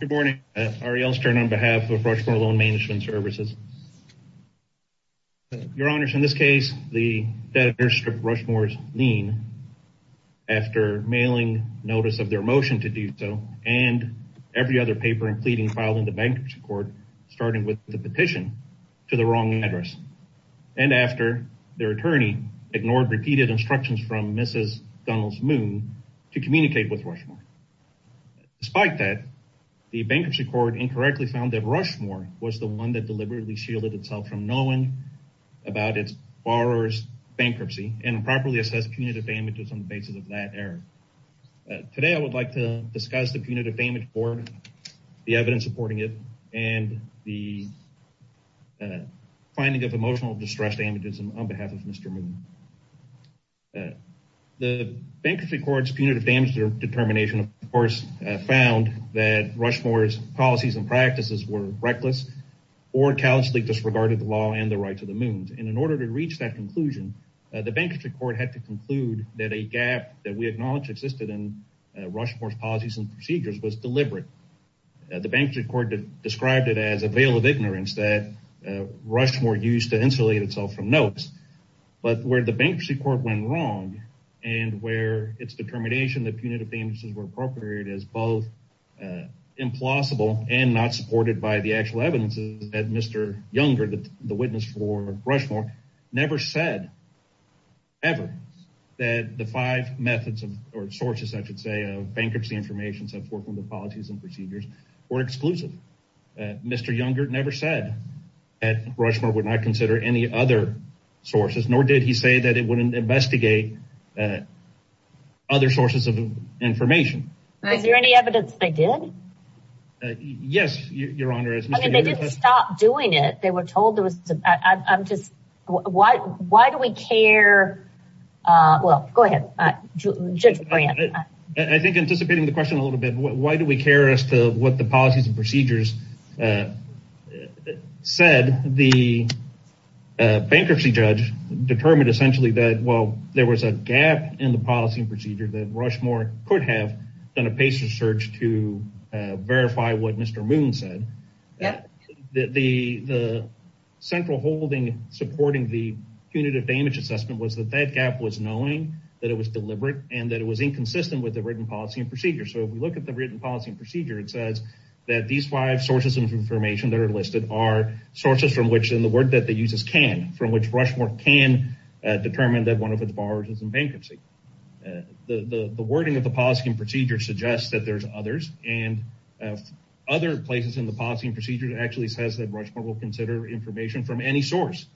Good morning, Ariel Stern on behalf of Rushmore Loan Management Services. Your Honors, in this case, the debtors stripped Rushmore's lien after mailing notice of their motion to do so and every other paper and pleading filed in the bankruptcy court starting with the petition to the wrong address, and after their attorney ignored repeated instructions from Mrs. Donald's Moon to communicate with Rushmore. Despite that, the bankruptcy court incorrectly found that Rushmore was the one that deliberately shielded itself from knowing about its borrower's bankruptcy and improperly assessed punitive damages on the basis of that error. Today I would like to discuss the punitive damage board, the evidence supporting it, and the finding of emotional distress damages on behalf of Mr. Moon. The bankruptcy court's punitive damage determination, of course, found that Rushmore's policies and practices were reckless or callously disregarded the law and the rights of the Moons, and in order to reach that conclusion, the bankruptcy court had to conclude that a gap that we acknowledge existed in Rushmore's policies and procedures was deliberate. The bankruptcy court described it as a veil of ignorance that Rushmore used to insulate itself from notes, but where the bankruptcy court went wrong and where its determination that punitive damages were appropriated as both implausible and not supported by the actual evidence is that Mr. Younger, the witness for Rushmore, never said, ever, that the five methods, or sources, I should say, of bankruptcy information, so forth, from the policies and procedures, were exclusive. Mr. Younger never said that Rushmore would not consider any other sources, nor did he say that it wouldn't investigate other sources of information. Is there any evidence they did? Yes, Your Honor. I mean, they didn't stop doing it. They were told there was, I'm just, why do we care, well, go ahead, Judge Brant. I think anticipating the question a little bit, why do we care as to what the policies and procedures said, the bankruptcy judge determined essentially that, well, there was a gap in the policy and procedure that Rushmore could have done a patient search to verify what Mr. Moon said, that the central holding supporting the punitive damage assessment was that that gap was knowing that it was deliberate and that it was inconsistent with the written policy and procedure. So, if we look at the written policy and procedure, it says that these five sources of information that are listed are sources from which, and the word that they use is can, from which Rushmore can determine that one of its borrowers is in bankruptcy. The wording of the policy and procedure suggests that there's others and other places in the policy and procedure that actually says that Rushmore will consider information from any source.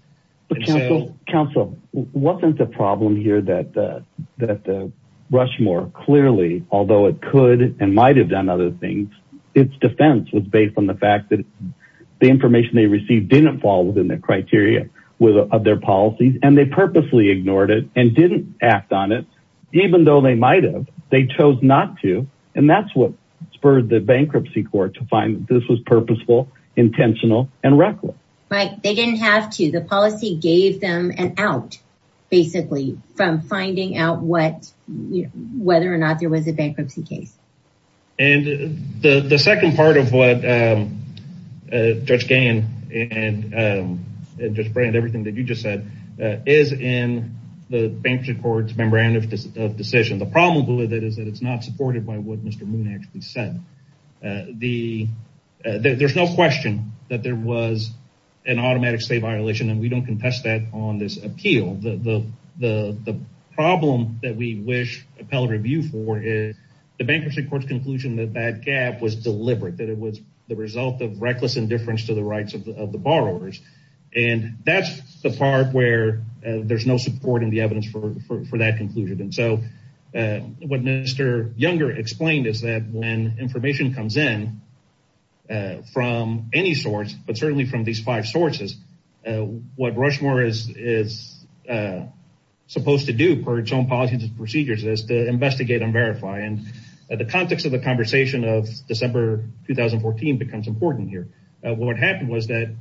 Counsel, wasn't the problem here that Rushmore clearly, although it could and might have done other things, its defense was based on the fact that the information they received didn't fall within the criteria of their policies and they purposely ignored it and didn't act on it, even though they might have, they chose not to. And that's what spurred the bankruptcy court to find that this was purposeful, intentional and reckless. Right. They didn't have to. The policy gave them an out, basically, from finding out what, whether or not there was a bankruptcy case. And the second part of what Judge Gahan and Judge Brand, everything that you just said, is in the bankruptcy court's memorandum of decision. The problem with it is that it's not supported by what Mr. Moon actually said. There's no question that there was an automatic state violation and we don't contest that on this appeal. The problem that we wish appellate review for is the bankruptcy court's conclusion that that gap was deliberate, that it was the result of reckless indifference to the rights of the borrowers. And that's the part where there's no support in the evidence for that conclusion. And so what Mr. Younger explained is that when information comes in from any source, but certainly from these five sources, what Rushmore is supposed to do per its own policies and procedures is to investigate and verify. And the context of the conversation of December 2014 becomes important here. What happened was that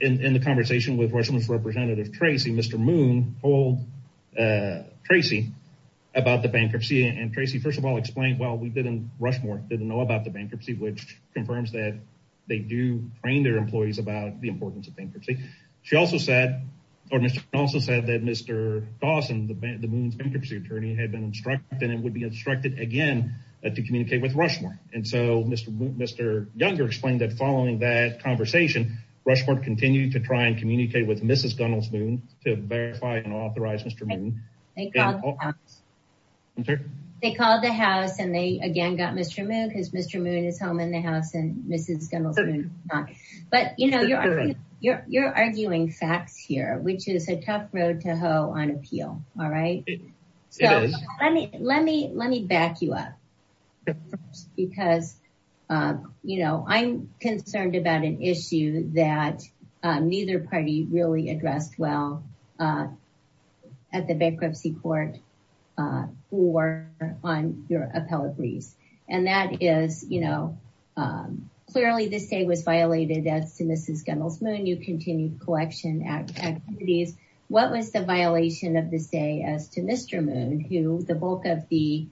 in the conversation with Rushmore's representative, Tracy, Mr. Moon told Tracy about the bankruptcy and Tracy, first of all, explained, well, Rushmore didn't know about the bankruptcy, which confirms that they do train their employees about the importance of bankruptcy. She also said, or Mr. Moon also said that Mr. Dawson, the Moon's bankruptcy attorney, had been instructed and would be instructed again to communicate with Rushmore. And so Mr. Younger explained that following that conversation, Rushmore continued to try and communicate with Mrs. Gunnels-Moon to verify and authorize Mr. Moon. They called the house and they again got Mr. Moon because Mr. Moon is home in the house and Mrs. Gunnels-Moon is not. But you know, you're arguing facts here, which is a tough road to hoe on appeal. All right. So let me back you up because, you know, I'm concerned about an issue that neither party really addressed well at the bankruptcy court or on your appellate lease. And that is, you know, clearly this day was violated as to Mrs. Gunnels-Moon. You continued collection activities. What was the violation of this day as to Mr. Moon, who the bulk of the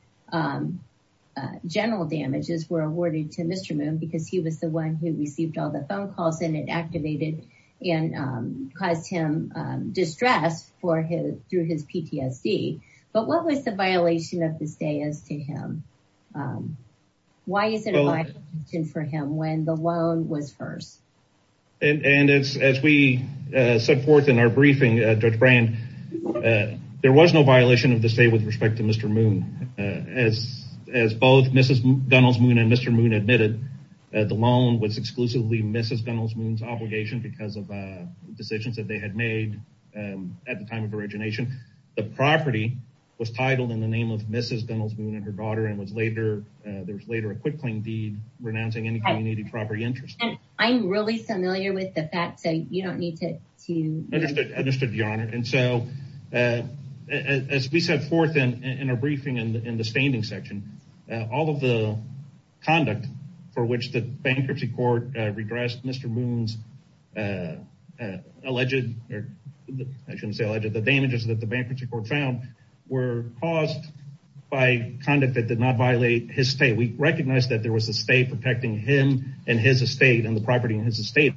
general damages were awarded to Mr. Moon because he was the one who received all the phone calls and it activated and caused him distress through his PTSD. But what was the violation of this day as to him? Why is it a violation for him when the loan was first? And as we set forth in our briefing, Judge Brand, there was no violation of this day with respect to Mr. Moon. As both Mrs. Gunnels-Moon and Mr. Moon admitted, the loan was exclusively Mrs. Gunnels-Moon's obligation because of decisions that they had made at the time of origination. The property was titled in the name of Mrs. Gunnels-Moon and her daughter and was later, there was later a quick claim deed renouncing any community property interest. I'm really familiar with the fact that you don't need to. Understood. Understood, Your Honor. And so, as we set forth in our briefing and in the standing section, all of the conduct for which the bankruptcy court regressed Mr. Moon's alleged, or I shouldn't say alleged, the damages that the bankruptcy court found were caused by conduct that did not violate his state. We recognized that there was a state protecting him and his estate and the property in his estate.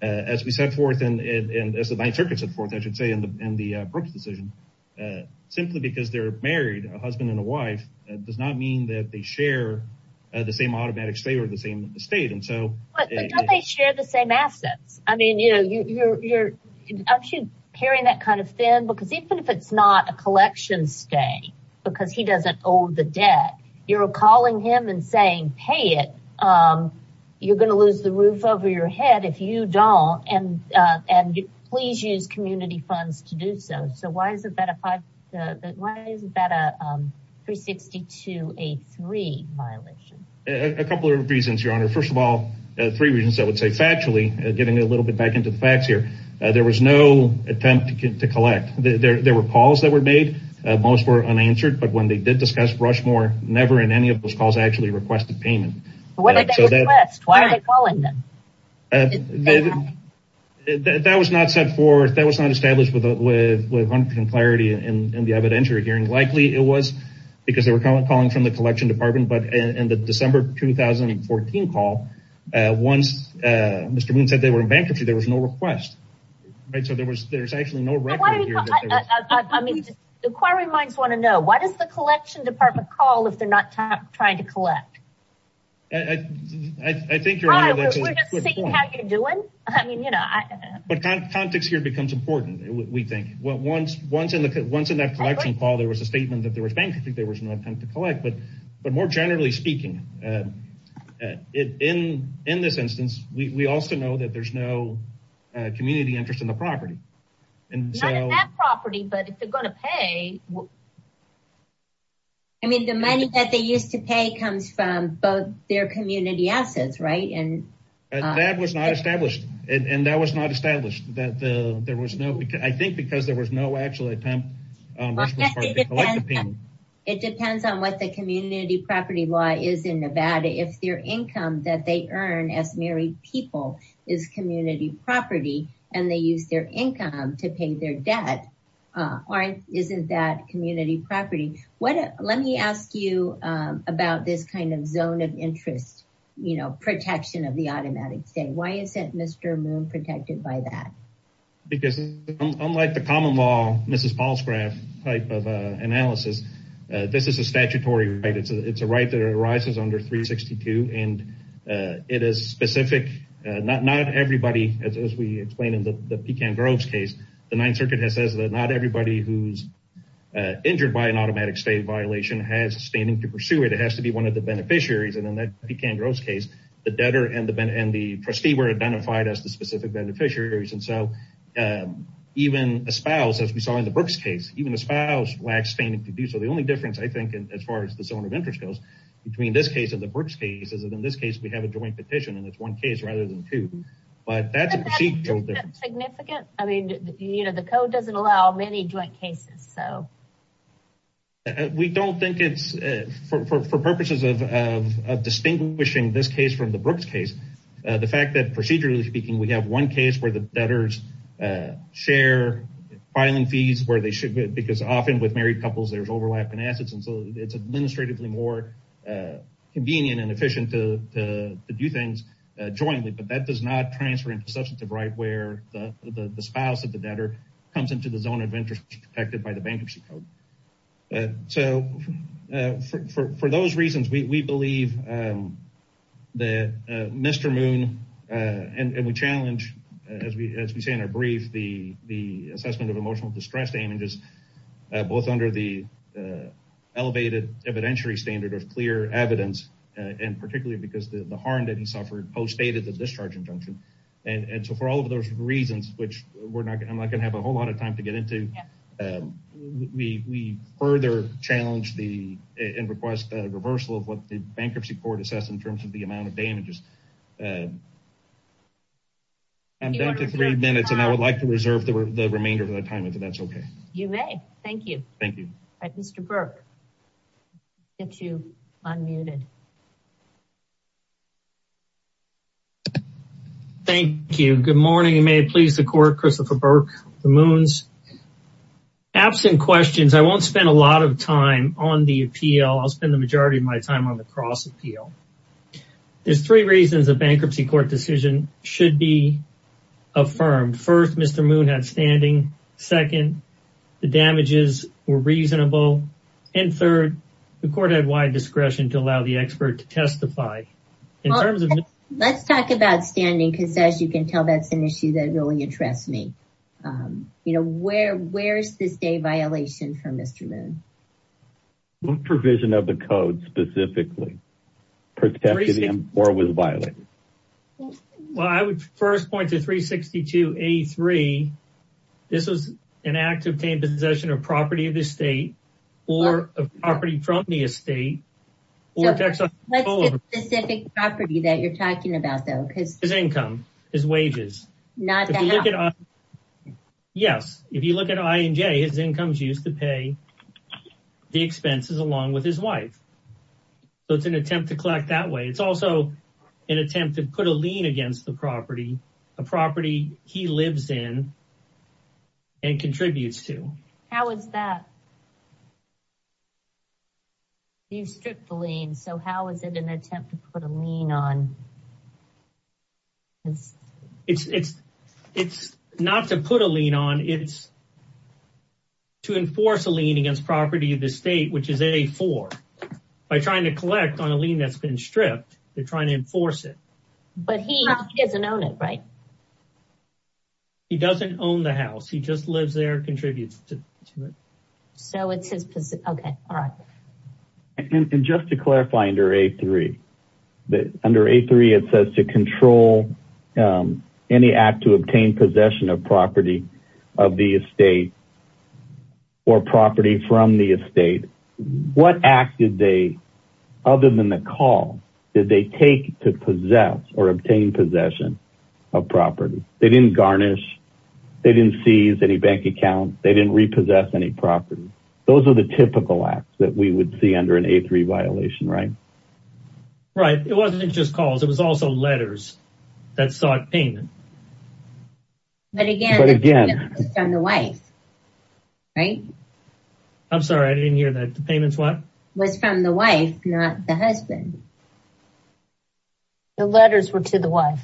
As we set forth and as the Ninth Circuit set forth, I should say, in the Brooks decision, simply because they're married, a husband and a wife, does not mean that they share the same automatic state or the same estate. But don't they share the same assets? I mean, I'm sure you're hearing that kind of thing because even if it's not a collection stay because he doesn't owe the debt, you're calling him and saying, pay it. You're going to lose the roof over your head if you don't. And please use community funds to do so. So why isn't that a 362A3 violation? A couple of reasons, Your Honor. First of all, three reasons, I would say. Factually, getting a little bit back into the facts here, there was no attempt to collect. There were calls that were made. Most were unanswered. But when they did discuss Rushmore, never in any of those calls actually requested payment. What did they request? Why are they calling them? That was not set forth. That was not established with 100% clarity in the evidentiary hearing. Likely it was because they were calling from the collection department. But in the December 2014 call, once Mr. Moon said they were in bankruptcy, there was no request. So there was there's actually no record here. I mean, the inquiry minds want to know, why does the collection department call if they're not trying to collect? I think, Your Honor, we're just seeing how you're doing. I mean, you know. But context here becomes important, we think. Well, once in that collection call, there was a statement that there was bankruptcy. There was no attempt to collect. But more generally speaking, in this instance, we also know that there's no community interest in the property. Not in that property, but if they're going to pay. I mean, the money that they used to pay comes from both their community assets, right? That was not established. And that was not established. I think because there was no actual attempt. It depends on what the community property law is in Nevada. If their income that they earn as married people is community property, and they use their income to pay their debt, isn't that community property? Let me ask you about this kind of zone of interest, protection of the automatic thing. Why isn't Mr. Moon protected by that? Because unlike the common law, Mrs. Paul's graph type of analysis, this is a statutory right. It's a right that arises under 362. And it is specific. Not everybody, as we explained in the Pekan Grove's case, the Ninth Circuit has said that not everybody who's injured by an automatic state violation has standing to pursue it. It has to be one of the beneficiaries. And in that Pekan Grove's case, the debtor and the trustee were identified as the specific beneficiaries. And so even a spouse, as we saw in the Brooks case, even a spouse lacks standing to do so. The only difference, I think, as far as the zone of interest goes, between this case and the Brooks case, is that in this case, we have a joint petition, and it's one case rather than two. But that's a procedural difference. Significant? I mean, you know, the code doesn't allow many joint cases, so. We don't think it's, for purposes of distinguishing this case from the Brooks case, the fact that procedurally speaking, we have one case where the debtors share filing fees where they should, because often with married couples, there's overlap in assets. And so it's administratively more convenient and efficient to do things jointly. But that does not transfer into substantive right where the spouse of the debtor comes into the zone of interest protected by the bankruptcy code. So for those reasons, we believe that Mr. Moon, and we challenge, as we say in our brief, the assessment of emotional distress damages, both under the elevated evidentiary standard of clear evidence, and particularly because the harm that he suffered postdated the discharge injunction. And so for all of those reasons, which I'm not going to have a whole lot of time to get into, we further challenge the, and request a reversal of what the bankruptcy court assessed in terms of the amount of damages. I'm down to three minutes, and I would like to reserve the remainder of the time if that's okay. You may. Thank you. Thank you. All right, Mr. Burke, I'll get you unmuted. Thank you. Good morning, and may it please the court, Christopher Burke, the Moons. Absent questions, I won't spend a lot of time on the appeal. I'll spend the majority of my time on the cross appeal. There's three reasons a bankruptcy court decision should be affirmed. First, Mr. Moon had standing. Second, the damages were reasonable. And third, the court had wide discretion to allow the expert to testify. Let's talk about standing, because as you can tell, that's an issue that really interests me. You know, where's this day violation for Mr. Moon? Provision of the code, specifically, protected him or was violated. Well, I would first point to 362A3. This is an act of taking possession of property of the state or a property from the estate. What's the specific property that you're talking about, though? His income, his wages. Yes, if you look at I and J, his income is used to pay the expenses along with his wife. So it's an attempt to collect that way. It's also an attempt to put a lien against the property. A property he lives in and contributes to. How is that? You stripped the lien, so how is it an attempt to put a lien on? It's not to put a lien on. It's to enforce a lien against property of the state, which is A4. By trying to collect on a lien that's been stripped, they're trying to enforce it. But he doesn't own it, right? He doesn't own the house. He just lives there, contributes to it. So it's his position. Okay, all right. And just to clarify under A3, it says to control any act to obtain possession of property of the estate or property from the estate. What act did they, other than the call, did they take to possess or obtain possession of property? They didn't garnish. They didn't seize any bank accounts. They didn't repossess any property. Those are the typical acts that we would see under an A3 violation, right? Right. It wasn't just calls. It was also letters that sought payment. But again, it's on the wife, right? I'm sorry, I didn't hear that. The payment's what? Was from the wife, not the husband. The letters were to the wife.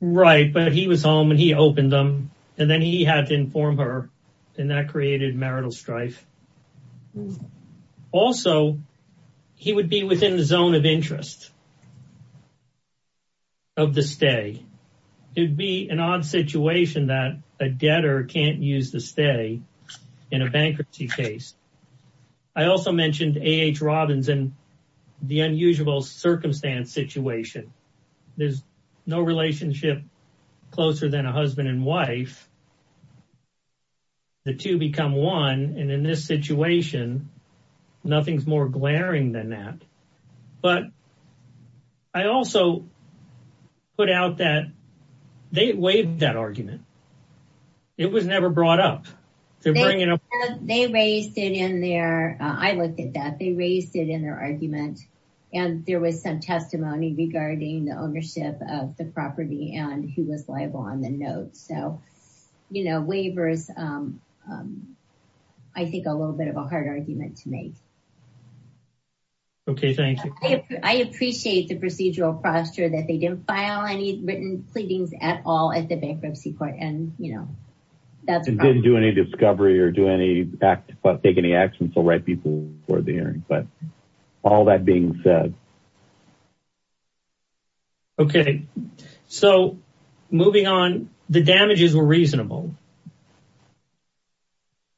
Right. But he was home and he opened them and then he had to inform her and that created marital strife. Also, he would be within the zone of interest of the stay. It'd be an odd situation that a debtor can't use the stay in a bankruptcy case. I also mentioned A.H. Robbins and the unusual circumstance situation. There's no relationship closer than a husband and wife. The two become one. And in this situation, nothing's more glaring than that. But I also put out that they waived that argument. It was never brought up. They raised it in there. I looked at that. They raised it in their argument and there was some testimony regarding the ownership of the property and who was liable on the note. So, you know, waivers, I think a little bit of a hard argument to make. Okay, thank you. I appreciate the procedural posture that they didn't file any written pleadings at all at the bankruptcy court. And, you know, that didn't do any discovery or do any act, take any action to write people for the hearing. But all that being said. Okay, so moving on, the damages were reasonable.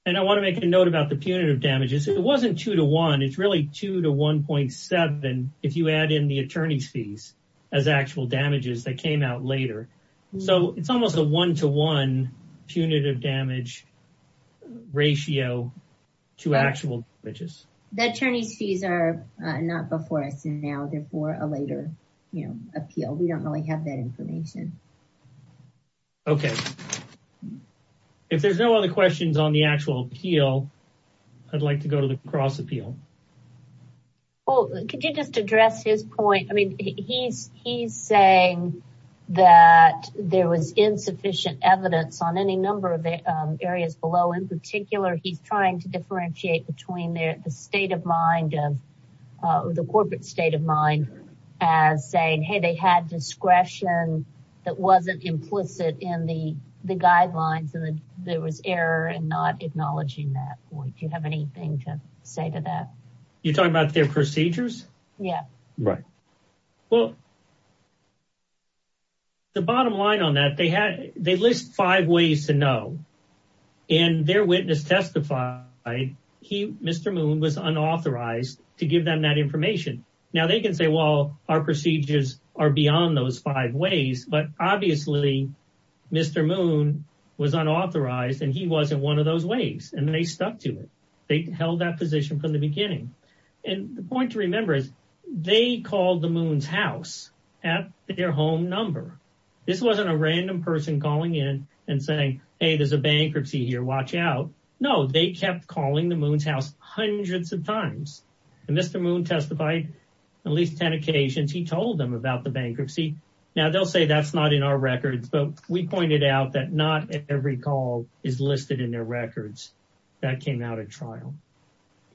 And I want to make a note about the punitive damages. It wasn't two to one. It's really two to 1.7. If you add in the attorney's fees as actual damages that came out later. So it's almost a one-to-one punitive damage ratio to actual damages. The attorney's fees are not before us now. They're for a later, you know, appeal. We don't really have that information. Okay, if there's no other questions on the actual appeal, I'd like to go to the cross appeal. Well, could you just address his point? I mean, he's saying that there was insufficient evidence on any number of areas below. In particular, he's trying to differentiate between the state of mind of, the corporate state of mind as saying, hey, they had discretion that wasn't implicit in the guidelines. And there was error and not acknowledging that point. Do you have anything to say to that? You're talking about their procedures? Yeah. Right. Well, the bottom line on that, they had, they list five ways to know. And their witness testified, he, Mr. Moon was unauthorized to give them that information. Now they can say, well, our procedures are beyond those five ways, but obviously Mr. Moon was unauthorized and he wasn't one of those ways. And they stuck to it. They held that position from the beginning. And the point to remember is they called the Moon's house at their home number. This wasn't a random person calling in and saying, hey, there's a bankruptcy here, watch out. No, they kept calling the Moon's house hundreds of times. And Mr. Moon testified at least 10 occasions. He told them about the bankruptcy. Now they'll say that's not in our records, but we pointed out that not every call is listed in their records that came out at trial.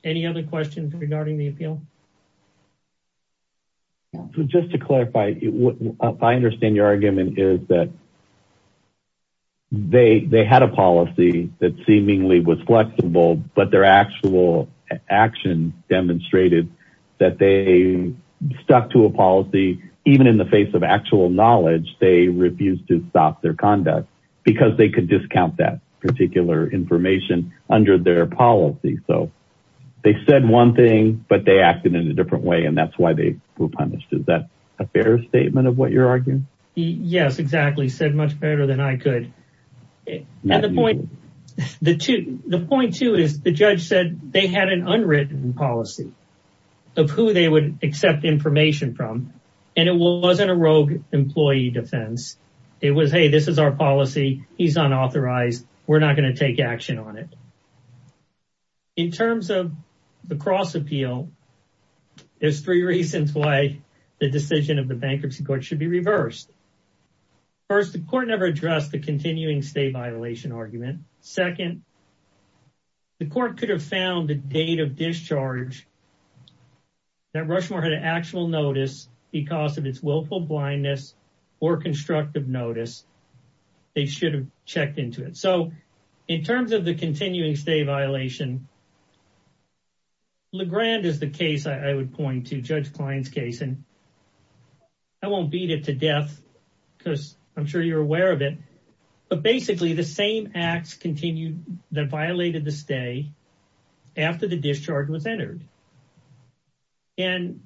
Any other questions regarding the appeal? So just to clarify, I understand your argument is that they had a policy that seemingly was flexible, but their actual action demonstrated that they stuck to a policy. Even in the face of actual knowledge, they refused to stop their conduct because they could discount that particular information under their policy. They said one thing, but they acted in a different way. And that's why they were punished. Is that a fair statement of what you're arguing? Yes, exactly. Said much better than I could. The point too is the judge said they had an unwritten policy of who they would accept information from. And it wasn't a rogue employee defense. It was, hey, this is our policy. He's unauthorized. We're not going to take action on it. In terms of the cross appeal, there's three reasons why the decision of the bankruptcy court should be reversed. First, the court never addressed the continuing stay violation argument. Second, the court could have found a date of discharge that Rushmore had an actual notice because of its willful blindness or constructive notice. They should have checked into it. In terms of the continuing stay violation, LeGrand is the case I would point to, Judge Klein's case. I won't beat it to death because I'm sure you're aware of it. But basically the same acts that violated the stay after the discharge was entered. And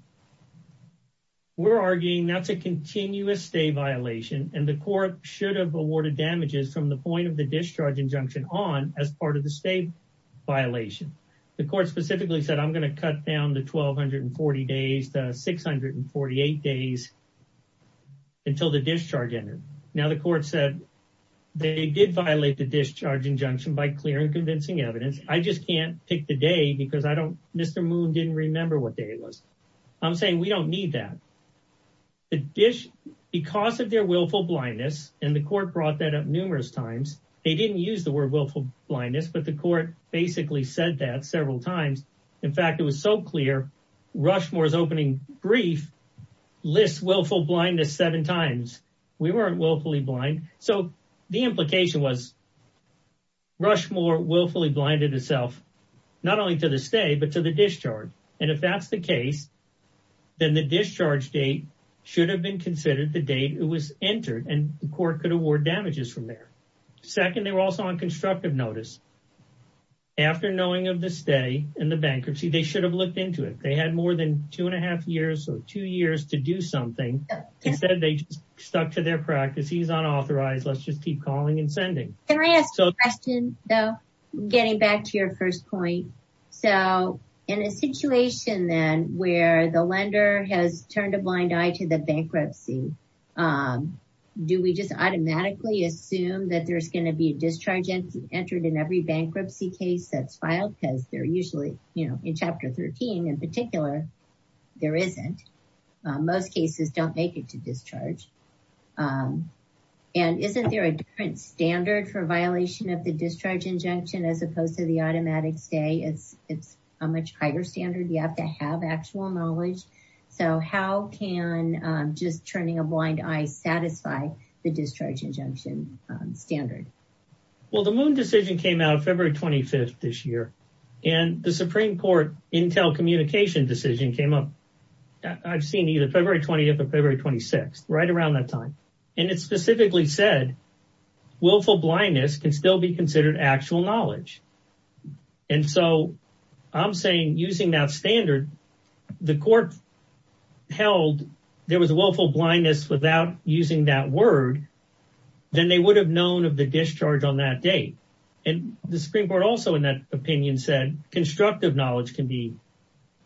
we're arguing that's a continuous stay violation and the court should have awarded damages from the point of the discharge injunction on as part of the stay violation. The court specifically said I'm going to cut down the 1240 days to 648 days until the discharge ended. Now the court said they did violate the discharge injunction by clear and convincing evidence. I just can't pick the day because Mr. Moon didn't remember what day it was. I'm saying we don't need that. Because of their willful blindness, and the court brought that up numerous times, they didn't use the word willful blindness, but the court basically said that several times. In fact, it was so clear Rushmore's opening brief lists willful blindness seven times. We weren't willfully blind. So the implication was Rushmore willfully blinded itself not only to the stay, but to the discharge. And if that's the case, then the discharge date should have been considered the date it was entered and the court could award damages from there. Second, they were also on constructive notice. After knowing of the stay and the bankruptcy, they should have looked into it. They had more than two and a half years or two years to do something. Instead, they just stuck to their practice. He's unauthorized. Let's just keep calling and sending. Can I ask a question though? Getting back to your first point. So in a situation then where the lender has turned a blind eye to the bankruptcy, do we just automatically assume that there's going to be a discharge entered in every bankruptcy case that's filed? Because they're usually, you know, in chapter 13 in particular, there isn't. Most cases don't make it to discharge. And isn't there a different standard for violation of the discharge injunction as opposed to the automatic stay it's a much higher standard. You have to have actual knowledge. So how can just turning a blind eye satisfy the discharge injunction standard? Well, the Moon decision came out of February 25th this year. And the Supreme Court Intel communication decision came up, I've seen either February 20th or February 26th, right around that time. And it specifically said willful blindness can still be considered actual knowledge. And so I'm saying using that standard, the court held there was a willful blindness without using that word, then they would have known of the discharge on that day. And the Supreme Court also in that opinion said constructive knowledge can be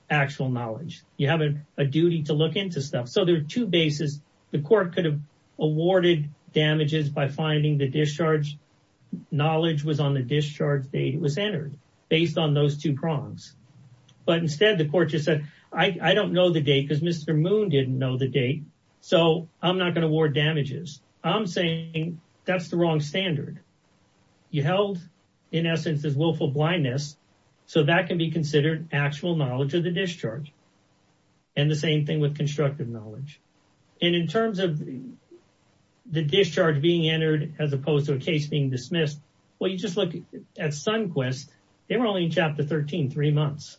actual knowledge. You have a duty to look into stuff. So there are two bases. The court could have awarded damages by finding the discharge knowledge was on the discharge date it was entered based on those two prongs. But instead the court just said, I don't know the date because Mr. Moon didn't know the date. So I'm not gonna award damages. I'm saying that's the wrong standard. You held in essence is willful blindness. So that can be considered actual knowledge of the discharge. And the same thing with constructive knowledge. And in terms of the discharge being entered as opposed to a case being dismissed, well, you just look at SunQuest. They were only in chapter 13, three months.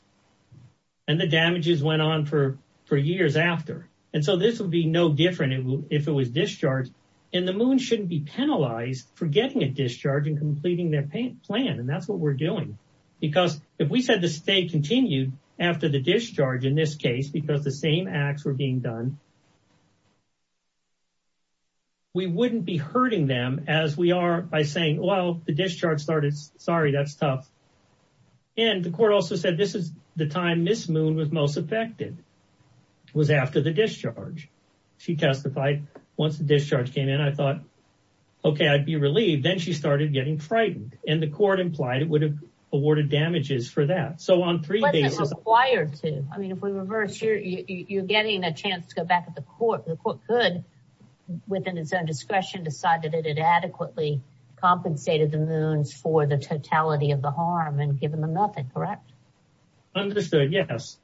And the damages went on for years after. And so this would be no different if it was discharged. And the Moon shouldn't be penalized for getting a discharge and completing their plan. And that's what we're doing. Because if we said the state continued after the discharge in this case, because the same acts were being done, we wouldn't be hurting them as we are by saying, well, the discharge started, sorry, that's tough. And the court also said, this is the time Ms. Moon was most affected was after the discharge. She testified once the discharge came in, I thought, okay, I'd be relieved. Then she started getting frightened and the court implied it would have awarded damages for that. So on three bases- What's it required to? I mean, if we reverse, you're getting a chance to go back at the court. The court could within its own discretion, decide that it had adequately compensated the Moons for the totality of the harm and give them a nothing, correct? Understood, yes.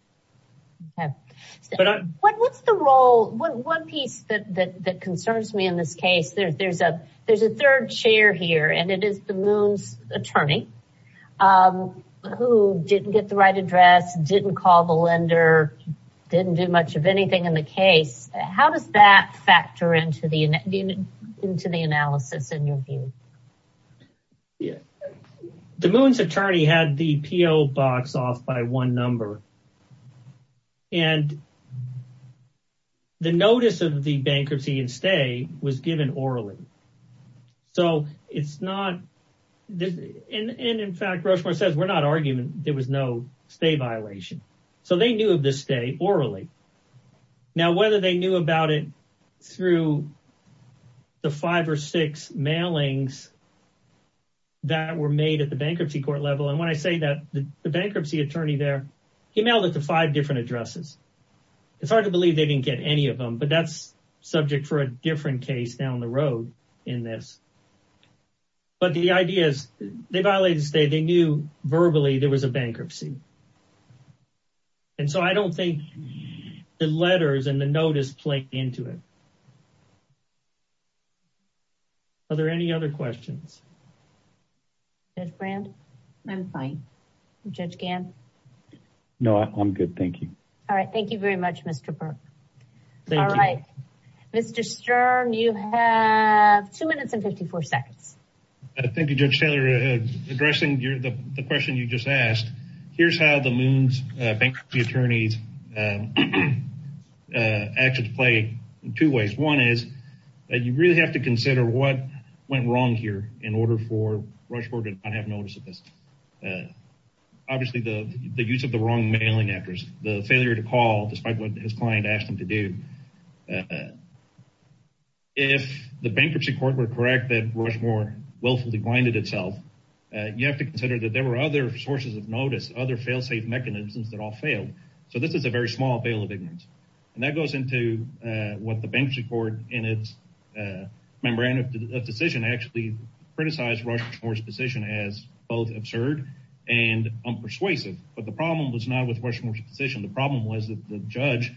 What's the role? One piece that concerns me in this case, there's a third chair here and it is the Moon's attorney who didn't get the right address, didn't call the lender, didn't do much of anything in the case. How does that factor into the analysis in your view? The Moon's attorney had the PO box off by one number and the notice of the bankruptcy and stay was given orally. So it's not, and in fact, Rushmore says, we're not arguing there was no stay violation. So they knew of the stay orally. Now, whether they knew about it through the five or six mailings that were made at the bankruptcy court level. And when I say that the bankruptcy attorney there, he mailed it to five different addresses. It's hard to believe they didn't get any of them, but that's subject for a different case down the road in this. But the idea is they violated the stay, they knew verbally there was a bankruptcy. And so I don't think the letters and the notice play into it. Are there any other questions? Judge Brand? I'm fine. Judge Gann? No, I'm good. Thank you. All right. Thank you very much, Mr. Burke. All right. Mr. Sturm, you have two minutes and 54 seconds. Thank you, Judge Taylor. Addressing the question you just asked, here's how the Moon's bankruptcy attorney's actions play in two ways. One is that you really have to consider what went wrong here in order for Rushmore to not have notice of this. Obviously, the use of the wrong mailing address, the failure to call, despite what his client asked him to do. If the bankruptcy court were correct that Rushmore willfully blinded itself, you have to consider that there were other sources of notice, other fail-safe mechanisms that all failed. So this is a very small bail of ignorance. And that goes into what the bankruptcy court in its memorandum of decision actually criticized Rushmore's decision as both absurd and unpersuasive. But the problem was not with Rushmore's decision. The problem was that the judge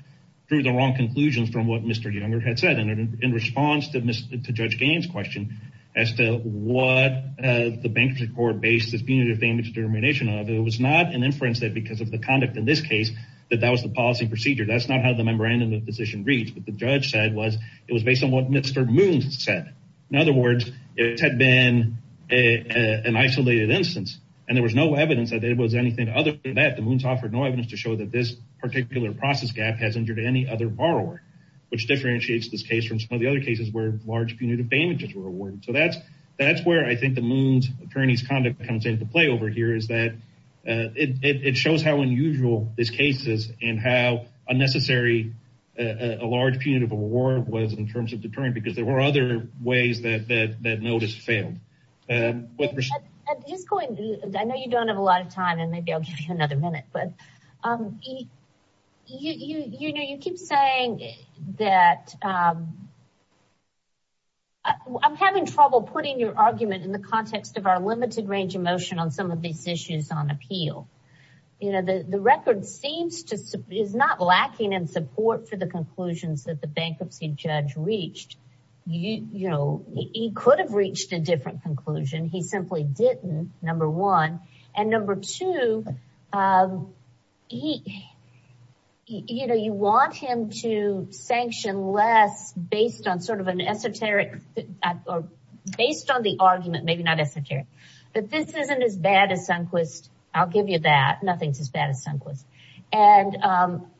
drew the wrong conclusions from what Mr. Younger had said. And in response to Judge Gann's question as to what the bankruptcy court based its punitive damage determination of, it was not an inference that because of the conduct in this case, that that was the policy procedure. That's not how the memorandum of decision reads. What the judge said was it was based on what Mr. Moons said. In other words, it had been an isolated instance and there was no evidence that it was anything other than that. The Moons offered no evidence to show that this particular process gap has injured any other borrower, which differentiates this case from some of the other cases where large punitive damages were awarded. So that's where I think the Moons attorney's conduct comes into play over here is that it shows how unusual this case is and how unnecessary a large punitive award was in terms of deterrent because there were other ways that notice failed. At this point, I know you don't have a lot of time and maybe I'll give you another minute, but you keep saying that I'm having trouble putting your argument in the context of our limited range of motion on some of these issues on appeal. You know, the record seems to, is not lacking in support for the conclusions that the bankruptcy judge reached. You know, he could have reached a different conclusion. He simply didn't, number one. And number two, you know, you want him to sanction less based on sort of an esoteric, or based on the argument, maybe not esoteric, but this isn't as bad as Sunquist. I'll give you that. Nothing's as bad as Sunquist. And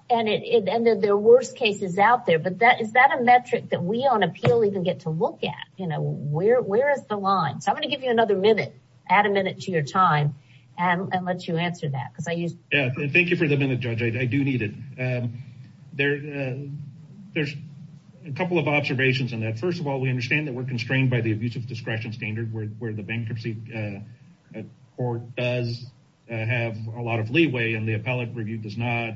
there are worse cases out there, but is that a metric that we on appeal even get to look at? You know, where is the line? So I'm going to give you another minute, add a minute to your time and let you answer that. Because I used- Yeah, thank you for the minute, Judge. I do need it. There's a couple of observations on that. First of all, we understand that we're constrained by the abusive discretion standard where the bankruptcy court does have a lot of leeway and the appellate review does not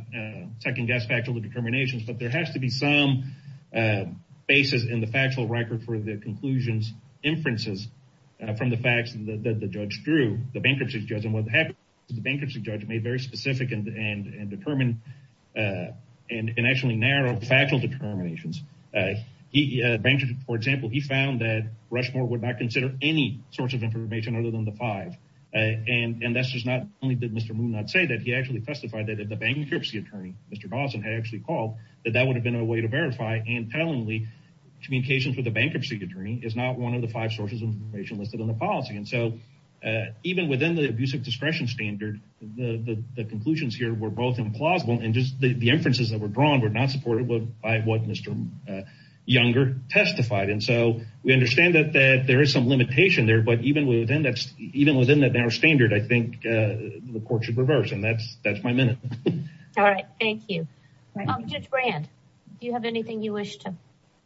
second-guess factual determinations. But there has to be some basis in the factual record for the conclusions inferences from the facts that the judge drew, the bankruptcy judge. And what happened is the bankruptcy judge made very specific and determined and actually narrowed factual determinations. He, for example, he found that Rushmore would not consider any source of information other than the five. And that's just not only did Mr. Moon not say that, he actually testified that the bankruptcy attorney, Mr. Dawson, had actually called that that would have been a way to verify. And tellingly, communications with the bankruptcy attorney is not one of the five sources of information listed in the policy. And so even within the abusive discretion standard, the conclusions here were both implausible and just the inferences that were drawn were not supported by what Mr. Younger testified. And so we understand that there is some limitation there. But even within that, even within that narrow standard, I think the court should reverse. And that's that's my minute. All right. Thank you. Judge Brand, do you have anything you wish to?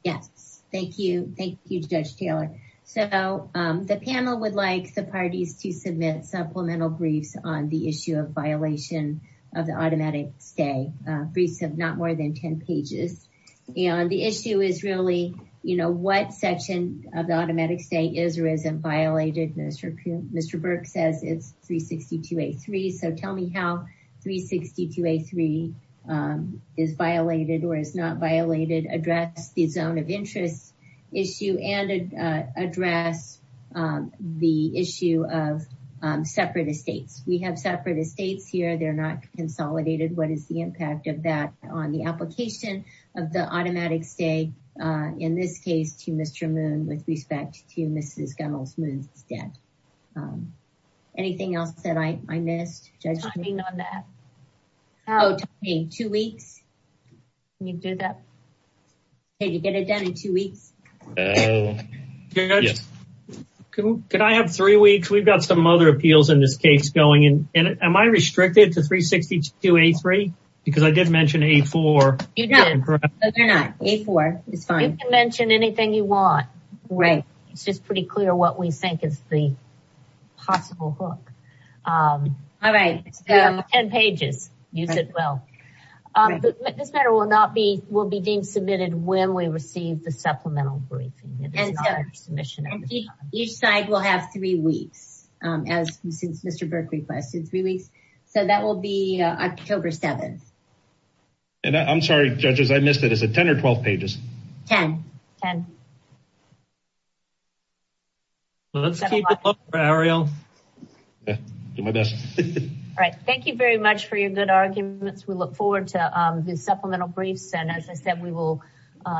Yes. Thank you. Thank you, Judge Taylor. So the panel would like the parties to submit supplemental briefs on the issue of violation of the automatic stay. Briefs of not more than 10 pages. And the issue is really, you know, what section of the automatic stay is or isn't violated? Mr. Burke says it's 362A3. So tell me how 362A3 is violated or is not violated. Address the zone of interest issue and address the issue of separate estates. We have separate estates here. They're not consolidated. What is the impact of that on the application of the automatic stay? In this case to Mr. Moon with respect to Mrs. Gunnell's Moon's death. Anything else that I missed? Judging on that. Oh, two weeks. Can you do that? Can you get it done in two weeks? Can I have three weeks? We've got some other appeals in this case going in. Am I restricted to 362A3? Because I did mention A4. You're not, A4 is fine. You can mention anything you want. Right. It's just pretty clear what we think is the possible hook. All right, 10 pages. Use it well. This matter will not be, will be deemed submitted when we receive the supplemental briefing. Each side will have three weeks as since Mr. Burke requested. So that will be October 7th. And I'm sorry, judges. I missed it. Is it 10 or 12 pages? 10. Let's keep it up, Ariel. Do my best. All right. Thank you very much for your good arguments. We look forward to the supplemental briefs. And as I said, we will,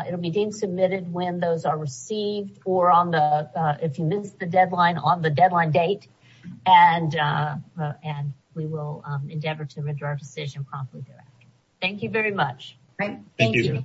it'll be deemed submitted when those are received or on the, if you missed the deadline, on the deadline date. And we will endeavor to render our decision promptly. Thank you very much. Great. Thank you.